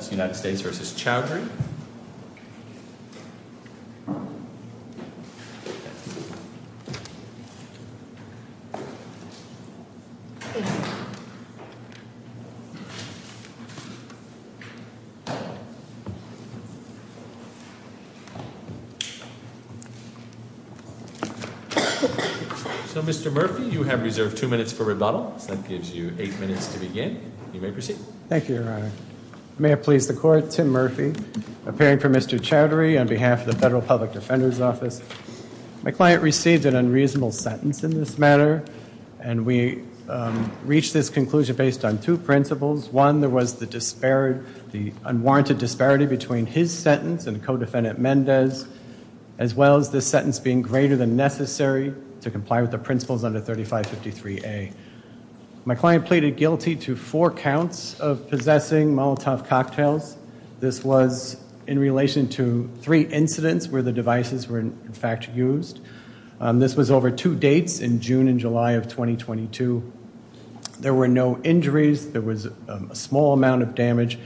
So Mr. Murphy, you have reserved two minutes for rebuttal, so that gives you eight minutes to begin. You may proceed. Thank you, Your Honor. May it please the court, Tim Murphy, appearing for Mr. Chowdhury on behalf of the Federal Public Defender's Office. My client received an unreasonable sentence in this matter, and we reached this conclusion based on two principles. One, there was the unwarranted disparity between his sentence and co-defendant Mendez, as well as this sentence being greater than necessary to comply with the principles under 3553A. My client pleaded guilty to four counts of possessing Molotov cocktails. This was in relation to three incidents where the devices were, in fact, used. This was over two dates in June and July of 2022. There were no injuries. There was a small amount of damage.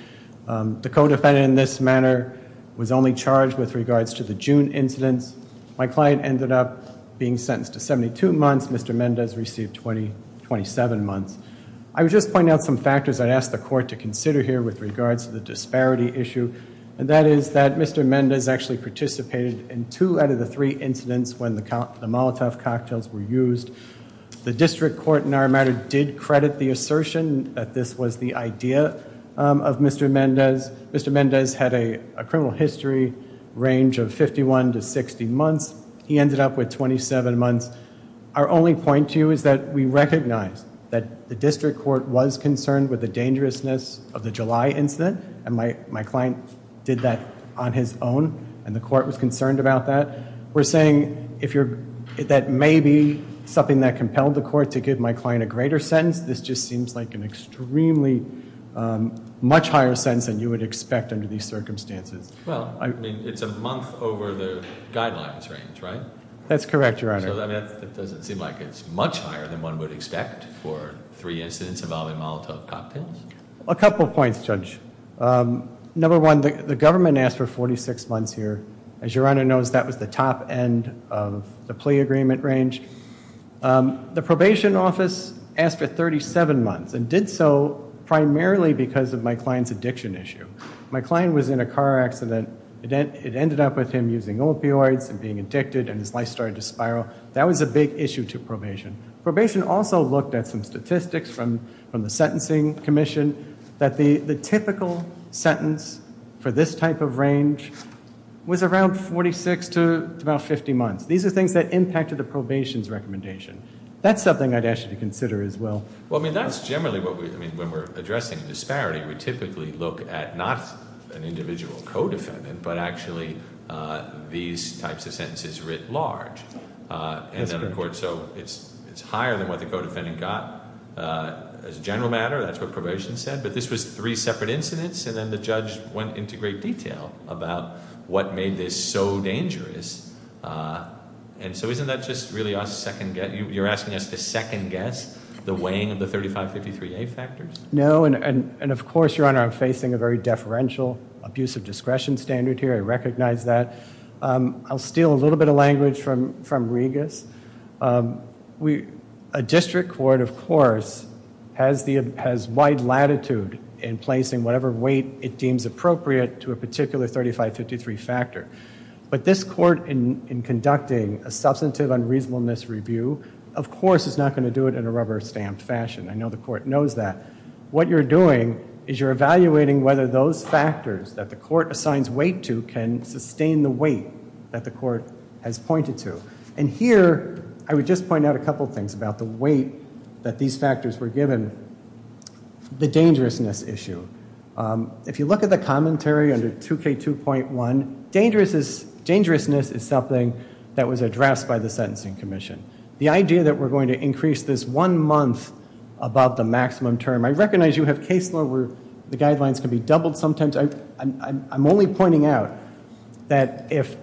The co-defendant in this matter was only charged with regards to the June incidents. My client ended up being sentenced to 72 months. Mr. Mendez received 27 months. I would just point out some factors I'd ask the court to consider here with regards to the disparity issue, and that is that Mr. Mendez actually participated in two out of the three incidents when the Molotov cocktails were used. The district court in our matter did credit the assertion that this was the idea of Mr. Mendez. Mr. Mendez had a criminal history range of 51 to 60 months. He ended up with 27 months. Our only point to you is that we recognize that the district court was concerned with the dangerousness of the July incident, and my client did that on his own, and the court was concerned about that. We're saying that may be something that compelled the court to give my client a greater sentence. This just seems like an extremely much higher sentence than you would expect under these circumstances. Well, I mean, it's a month over the guidelines range, right? That's correct, Your Honor. So that doesn't seem like it's much higher than one would expect for three incidents involving Molotov cocktails? A couple of points, Judge. Number one, the government asked for 46 months here. As Your Honor knows, that was the top end of the plea agreement range. The probation office asked for 37 months, and did so primarily because of my client's addiction issue. My client was in a car accident. It ended up with him using opioids and being addicted, and his life started to spiral. That was a big issue to probation. Probation also looked at some statistics from the sentencing commission that the typical sentence for this type of range was around 46 to about 50 months. These are things that impacted the probation's recommendation. That's something I'd ask you to consider as well. Well, I mean, that's generally what we, I mean, when we're addressing disparity, we typically look at not an individual co-defendant, but actually these types of sentences writ large. That's correct. And then, of course, so it's higher than what the co-defendant got. As a general matter, that's what probation said, but this was three separate incidents, and then the judge went into great detail about what made this so dangerous. And so isn't that just really a second guess? You're asking us to second guess the weighing of the 3553A factors? No, and of course, Your Honor, I'm facing a very deferential abusive discretion standard here. I recognize that. I'll steal a little bit of language from Regas. A district court, of course, has wide latitude in placing whatever weight it deems appropriate to a particular 3553 factor, but this court in conducting a substantive unreasonableness review, of course, is not going to do it in a rubber-stamped fashion. I know the court knows that. What you're doing is you're evaluating whether those factors that the court assigns weight to can sustain the weight that the court has pointed to. And here, I would just point out a couple things about the weight that these factors were given. The dangerousness issue. If you look at the commentary under 2K2.1, dangerousness is something that was addressed by the Sentencing Commission. The idea that we're going to increase this one month above the maximum term, I recognize you have case law where the guidelines can be doubled sometimes. I'm only pointing out that if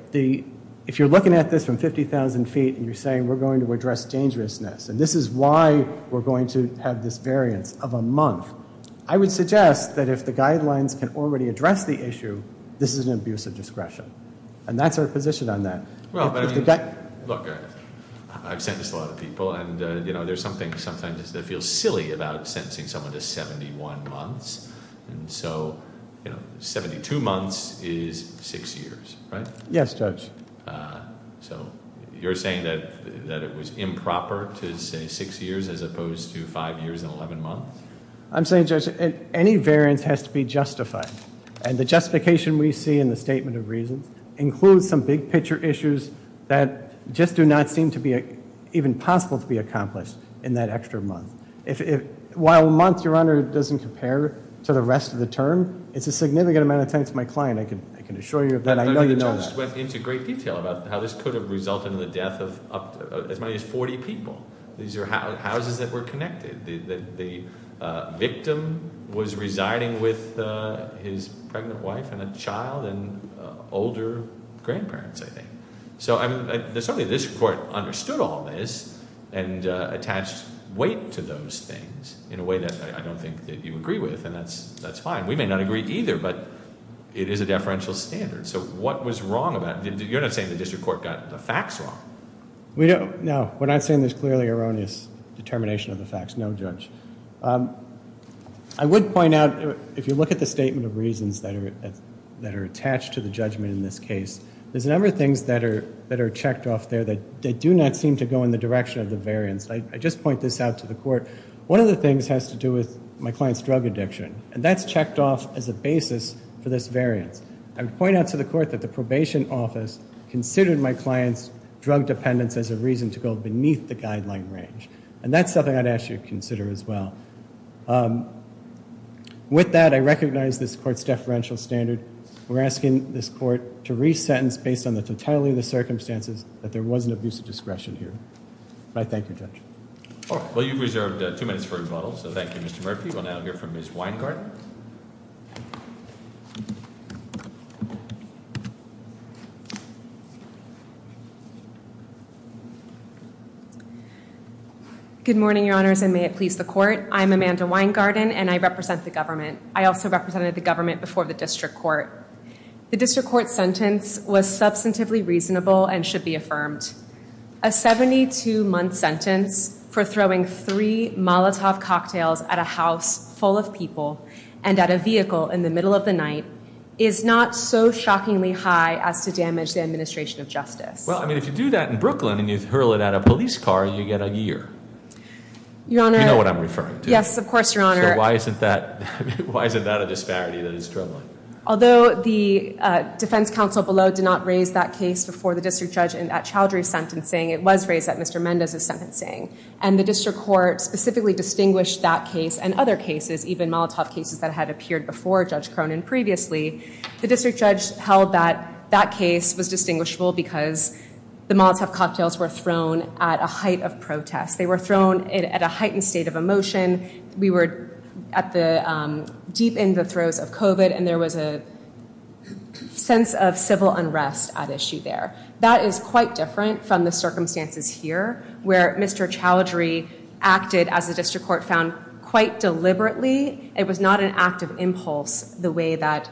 you're looking at this from 50,000 feet and you're saying we're going to address dangerousness, and this is why we're going to have this variance of a month, I would suggest that if the guidelines can already address the issue, this is an abusive discretion. And that's our position on that. Well, but I mean, look, I've sentenced a lot of people, and there's something sometimes that feels silly about sentencing someone to 71 months, and so 72 months is six years, right? Yes, Judge. So you're saying that it was improper to say six years as opposed to five years and 11 months? I'm saying, Judge, any variance has to be justified. And the justification we see in the Statement of Reasons includes some big-picture issues that just do not seem to be even possible to be accomplished in that extra month. While a month, Your Honor, doesn't compare to the rest of the term, it's a significant amount of time to my client, I can assure you of that, and I know you know that. I know you just went into great detail about how this could have resulted in the death of as many as 40 people. These are houses that were connected. The victim was residing with his pregnant wife and a child and older grandparents, I think. So, I mean, certainly this Court understood all this and attached weight to those things in a way that I don't think that you agree with, and that's fine. We may not agree either, but it is a deferential standard. So what was wrong about it? You're not saying the District Court got the facts wrong. We don't, no. We're not saying there's clearly erroneous determination of the facts. No, Judge. I would point out, if you look at the statement of reasons that are attached to the judgment in this case, there's a number of things that are checked off there that do not seem to go in the direction of the variance. I just point this out to the Court. One of the things has to do with my client's drug addiction, and that's checked off as a basis for this variance. I would point out to the Court that the Probation Office considered my client's drug dependence as a reason to go beneath the guideline range. And that's something I'd ask you to consider as well. With that, I recognize this Court's deferential standard. We're asking this Court to re-sentence, based on the totality of the circumstances, that there was an abuse of discretion here. I thank you, Judge. All right. Well, you've reserved two minutes for rebuttal, so thank you, Mr. Murphy. We'll now hear from Ms. Weingarten. Good morning, Your Honors, and may it please the Court. I'm Amanda Weingarten, and I represent the government. I also represented the government before the District Court. The District Court's sentence was substantively reasonable and should be affirmed. A 72-month sentence for throwing three Molotov cocktails at a house full of people and at a vehicle in the middle of the night is not so shockingly high as to damage the administration of justice. Well, I mean, if you do that in Brooklyn and you hurl it at a police car, you get a year. You know what I'm referring to. Yes, of course, Your Honor. So why isn't that a disparity that is struggling? Although the defense counsel below did not raise that case before the District Judge in that child re-sentencing, it was raised at Mr. Mendez's sentencing, and the District Court specifically distinguished that case and other cases, even Molotov cases that had appeared before Judge Cronin previously, the District Judge held that that case was distinguishable because the Molotov cocktails were thrown at a height of protest. They were thrown at a heightened state of emotion. We were deep in the throes of COVID, and there was a sense of civil unrest at issue there. That is quite different from the circumstances here, where Mr. Chowdhury acted, as the District Court found, quite deliberately. It was not an act of impulse the way that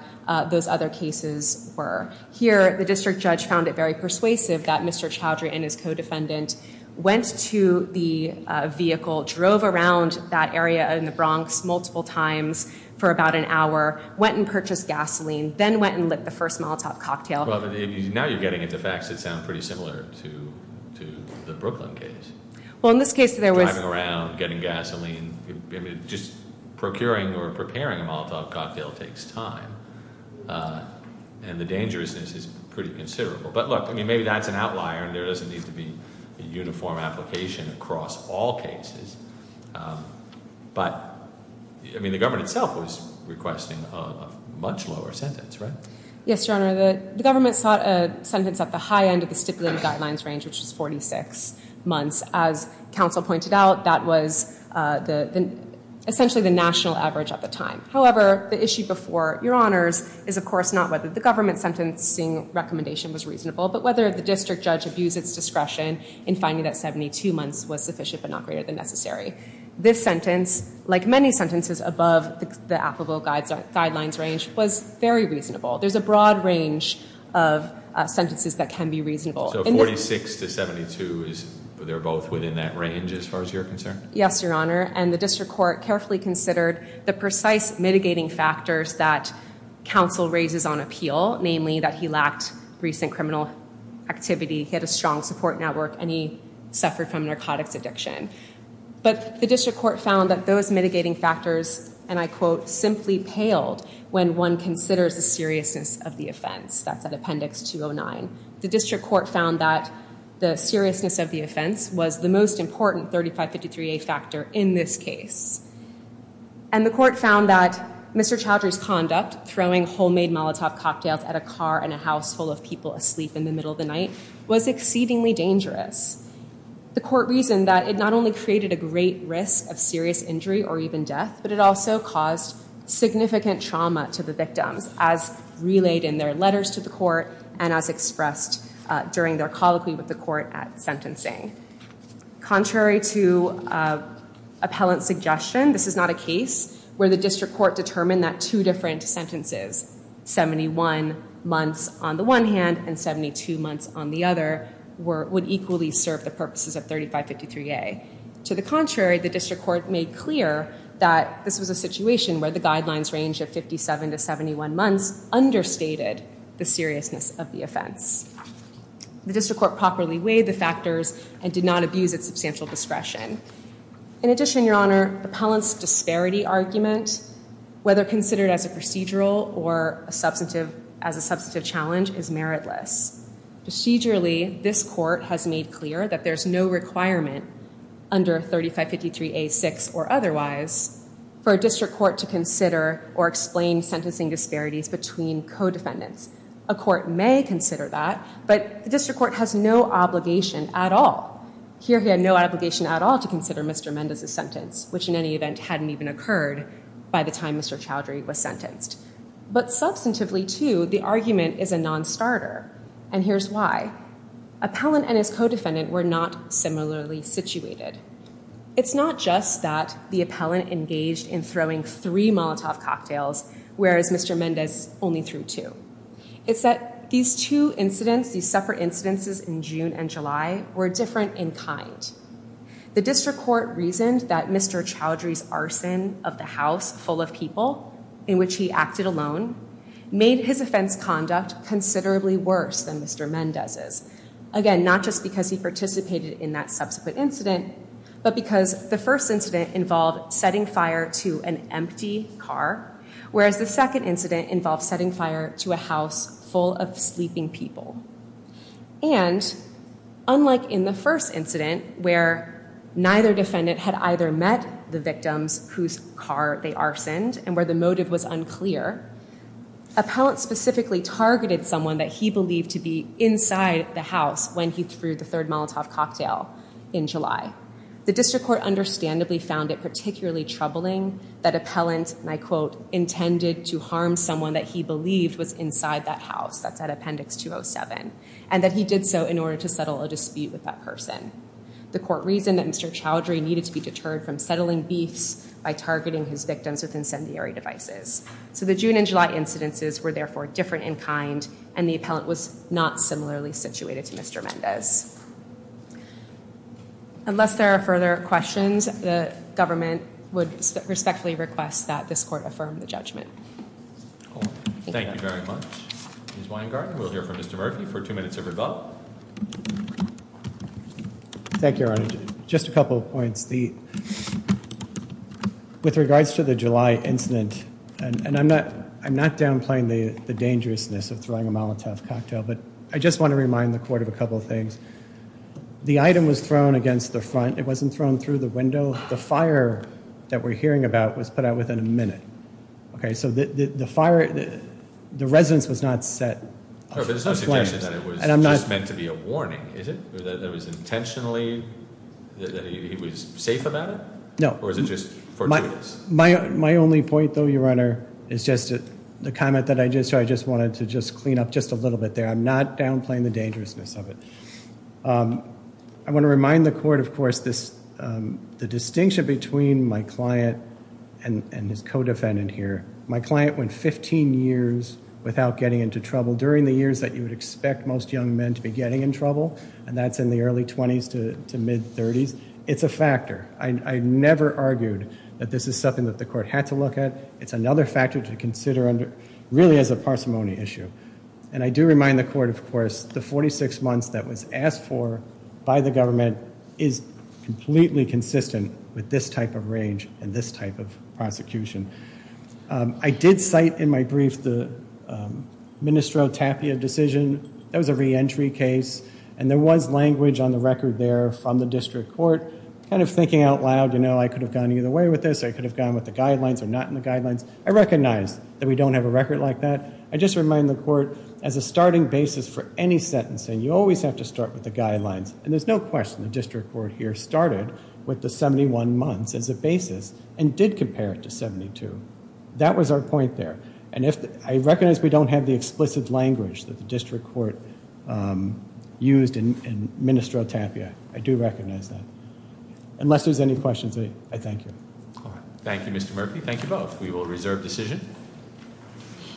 those other cases were. Here, the District Judge found it very persuasive that Mr. Chowdhury and his co-defendant went to the vehicle, drove around that area in the Bronx multiple times for about an hour, went and purchased gasoline, then went and lit the first Molotov cocktail. Now you're getting into facts that sound pretty similar to the Brooklyn case. Well, in this case, there was- Driving around, getting gasoline. Just procuring or preparing a Molotov cocktail takes time. And the dangerousness is pretty considerable. But look, maybe that's an outlier, and there doesn't need to be a uniform application across all cases. But the government itself was requesting a much lower sentence, right? Yes, Your Honor, the government sought a sentence at the high end of the stipulated guidelines range, which was 46 months. As counsel pointed out, that was essentially the national average at the time. However, the issue before Your Honors is, of course, not whether the government sentencing recommendation was reasonable, but whether the District Judge abused its discretion in finding that 72 months was sufficient but not greater than necessary. This sentence, like many sentences above the applicable guidelines range, was very reasonable. There's a broad range of sentences that can be reasonable. So 46 to 72, they're both within that range as far as you're concerned? Yes, Your Honor, and the district court carefully considered the precise mitigating factors that counsel raises on appeal, namely that he lacked recent criminal activity, he had a strong support network, and he suffered from narcotics addiction. But the district court found that those mitigating factors, and I quote, simply paled when one considers the seriousness of the offense. That's at Appendix 209. The district court found that the seriousness of the offense was the most important 3553A factor in this case. And the court found that Mr. Chowdhury's conduct, throwing homemade Molotov cocktails at a car and a household of people asleep in the middle of the night, was exceedingly dangerous. The court reasoned that it not only created a great risk of serious injury or even death, but it also caused significant trauma to the victims, as relayed in their letters to the court and as expressed during their colloquy with the court at sentencing. Contrary to appellant suggestion, this is not a case where the district court determined that two different sentences, 71 months on the one hand and 72 months on the other, would equally serve the purposes of 3553A. To the contrary, the district court made clear that this was a situation where the guidelines range of 57 to 71 months understated the seriousness of the offense. The district court properly weighed the factors and did not abuse its substantial discretion. In addition, Your Honor, the appellant's disparity argument, whether considered as a procedural or as a substantive challenge, is meritless. Procedurally, this court has made clear that there's no requirement under 3553A.6 or otherwise for a district court to consider or explain sentencing disparities between co-defendants. A court may consider that, but the district court has no obligation at all. Here, he had no obligation at all to consider Mr. Mendez's sentence, which in any event hadn't even occurred by the time Mr. Chowdhury was sentenced. But substantively, too, the argument is a non-starter, and here's why. Appellant and his co-defendant were not similarly situated. It's not just that the appellant engaged in throwing three Molotov cocktails, whereas Mr. Mendez only threw two. It's that these two incidents, these separate incidences in June and July, were different in kind. The district court reasoned that Mr. Chowdhury's arson of the house full of people, in which he acted alone, made his offense conduct considerably worse than Mr. Mendez's. Again, not just because he participated in that subsequent incident, but because the first incident involved setting fire to an empty car, whereas the second incident involved setting fire to a house full of sleeping people. And unlike in the first incident, where neither defendant had either met the victims whose car they arsoned, and where the motive was unclear, appellant specifically targeted someone that he believed to be inside the house when he threw the third Molotov cocktail in July. The district court understandably found it particularly troubling that appellant, and I quote, intended to harm someone that he believed was inside that house, that's at appendix 207, and that he did so in order to settle a dispute with that person. The court reasoned that Mr. Chowdhury needed to be deterred from settling beefs by targeting his victims with incendiary devices. So the June and July incidences were therefore different in kind, and the appellant was not similarly situated to Mr. Mendez. Unless there are further questions, the government would respectfully request that this court affirm the judgment. Thank you very much. Ms. Weingarten, we'll hear from Mr. Murphy for two minutes of rebut. Thank you, Your Honor. Just a couple of points. With regards to the July incident, and I'm not downplaying the dangerousness of throwing a Molotov cocktail, but I just want to remind the court of a couple of things. The item was thrown against the front. It wasn't thrown through the window. The fire that we're hearing about was put out within a minute. Okay, so the fire, the residence was not set. No, but it's not suggesting that it was just meant to be a warning, is it? That it was intentionally, that it was safe about it? No. Or is it just fortuitous? My only point though, Your Honor, is just the comment that I just heard. I just wanted to just clean up just a little bit there. I'm not downplaying the dangerousness of it. I want to remind the court, of course, the distinction between my client and his co-defendant here. My client went 15 years without getting into trouble, during the years that you would expect most young men to be getting in trouble. And that's in the early 20s to mid 30s. It's a factor. I never argued that this is something that the court had to look at. It's another factor to consider really as a parsimony issue. And I do remind the court, of course, the 46 months that was asked for by the government is completely consistent with this type of range and this type of prosecution. I did cite in my brief the Ministro Tapia decision. That was a re-entry case. And there was language on the record there from the district court. Kind of thinking out loud, I could have gone either way with this. I could have gone with the guidelines or not in the guidelines. I recognize that we don't have a record like that. I just remind the court, as a starting basis for any sentencing, you always have to start with the guidelines. And there's no question the district court here started with the 71 months as a basis and did compare it to 72. That was our point there. And I recognize we don't have the explicit language that the district court used in Ministro Tapia, I do recognize that. Unless there's any questions, I thank you. Thank you, Mr. Murphy. Thank you both. We will reserve decision.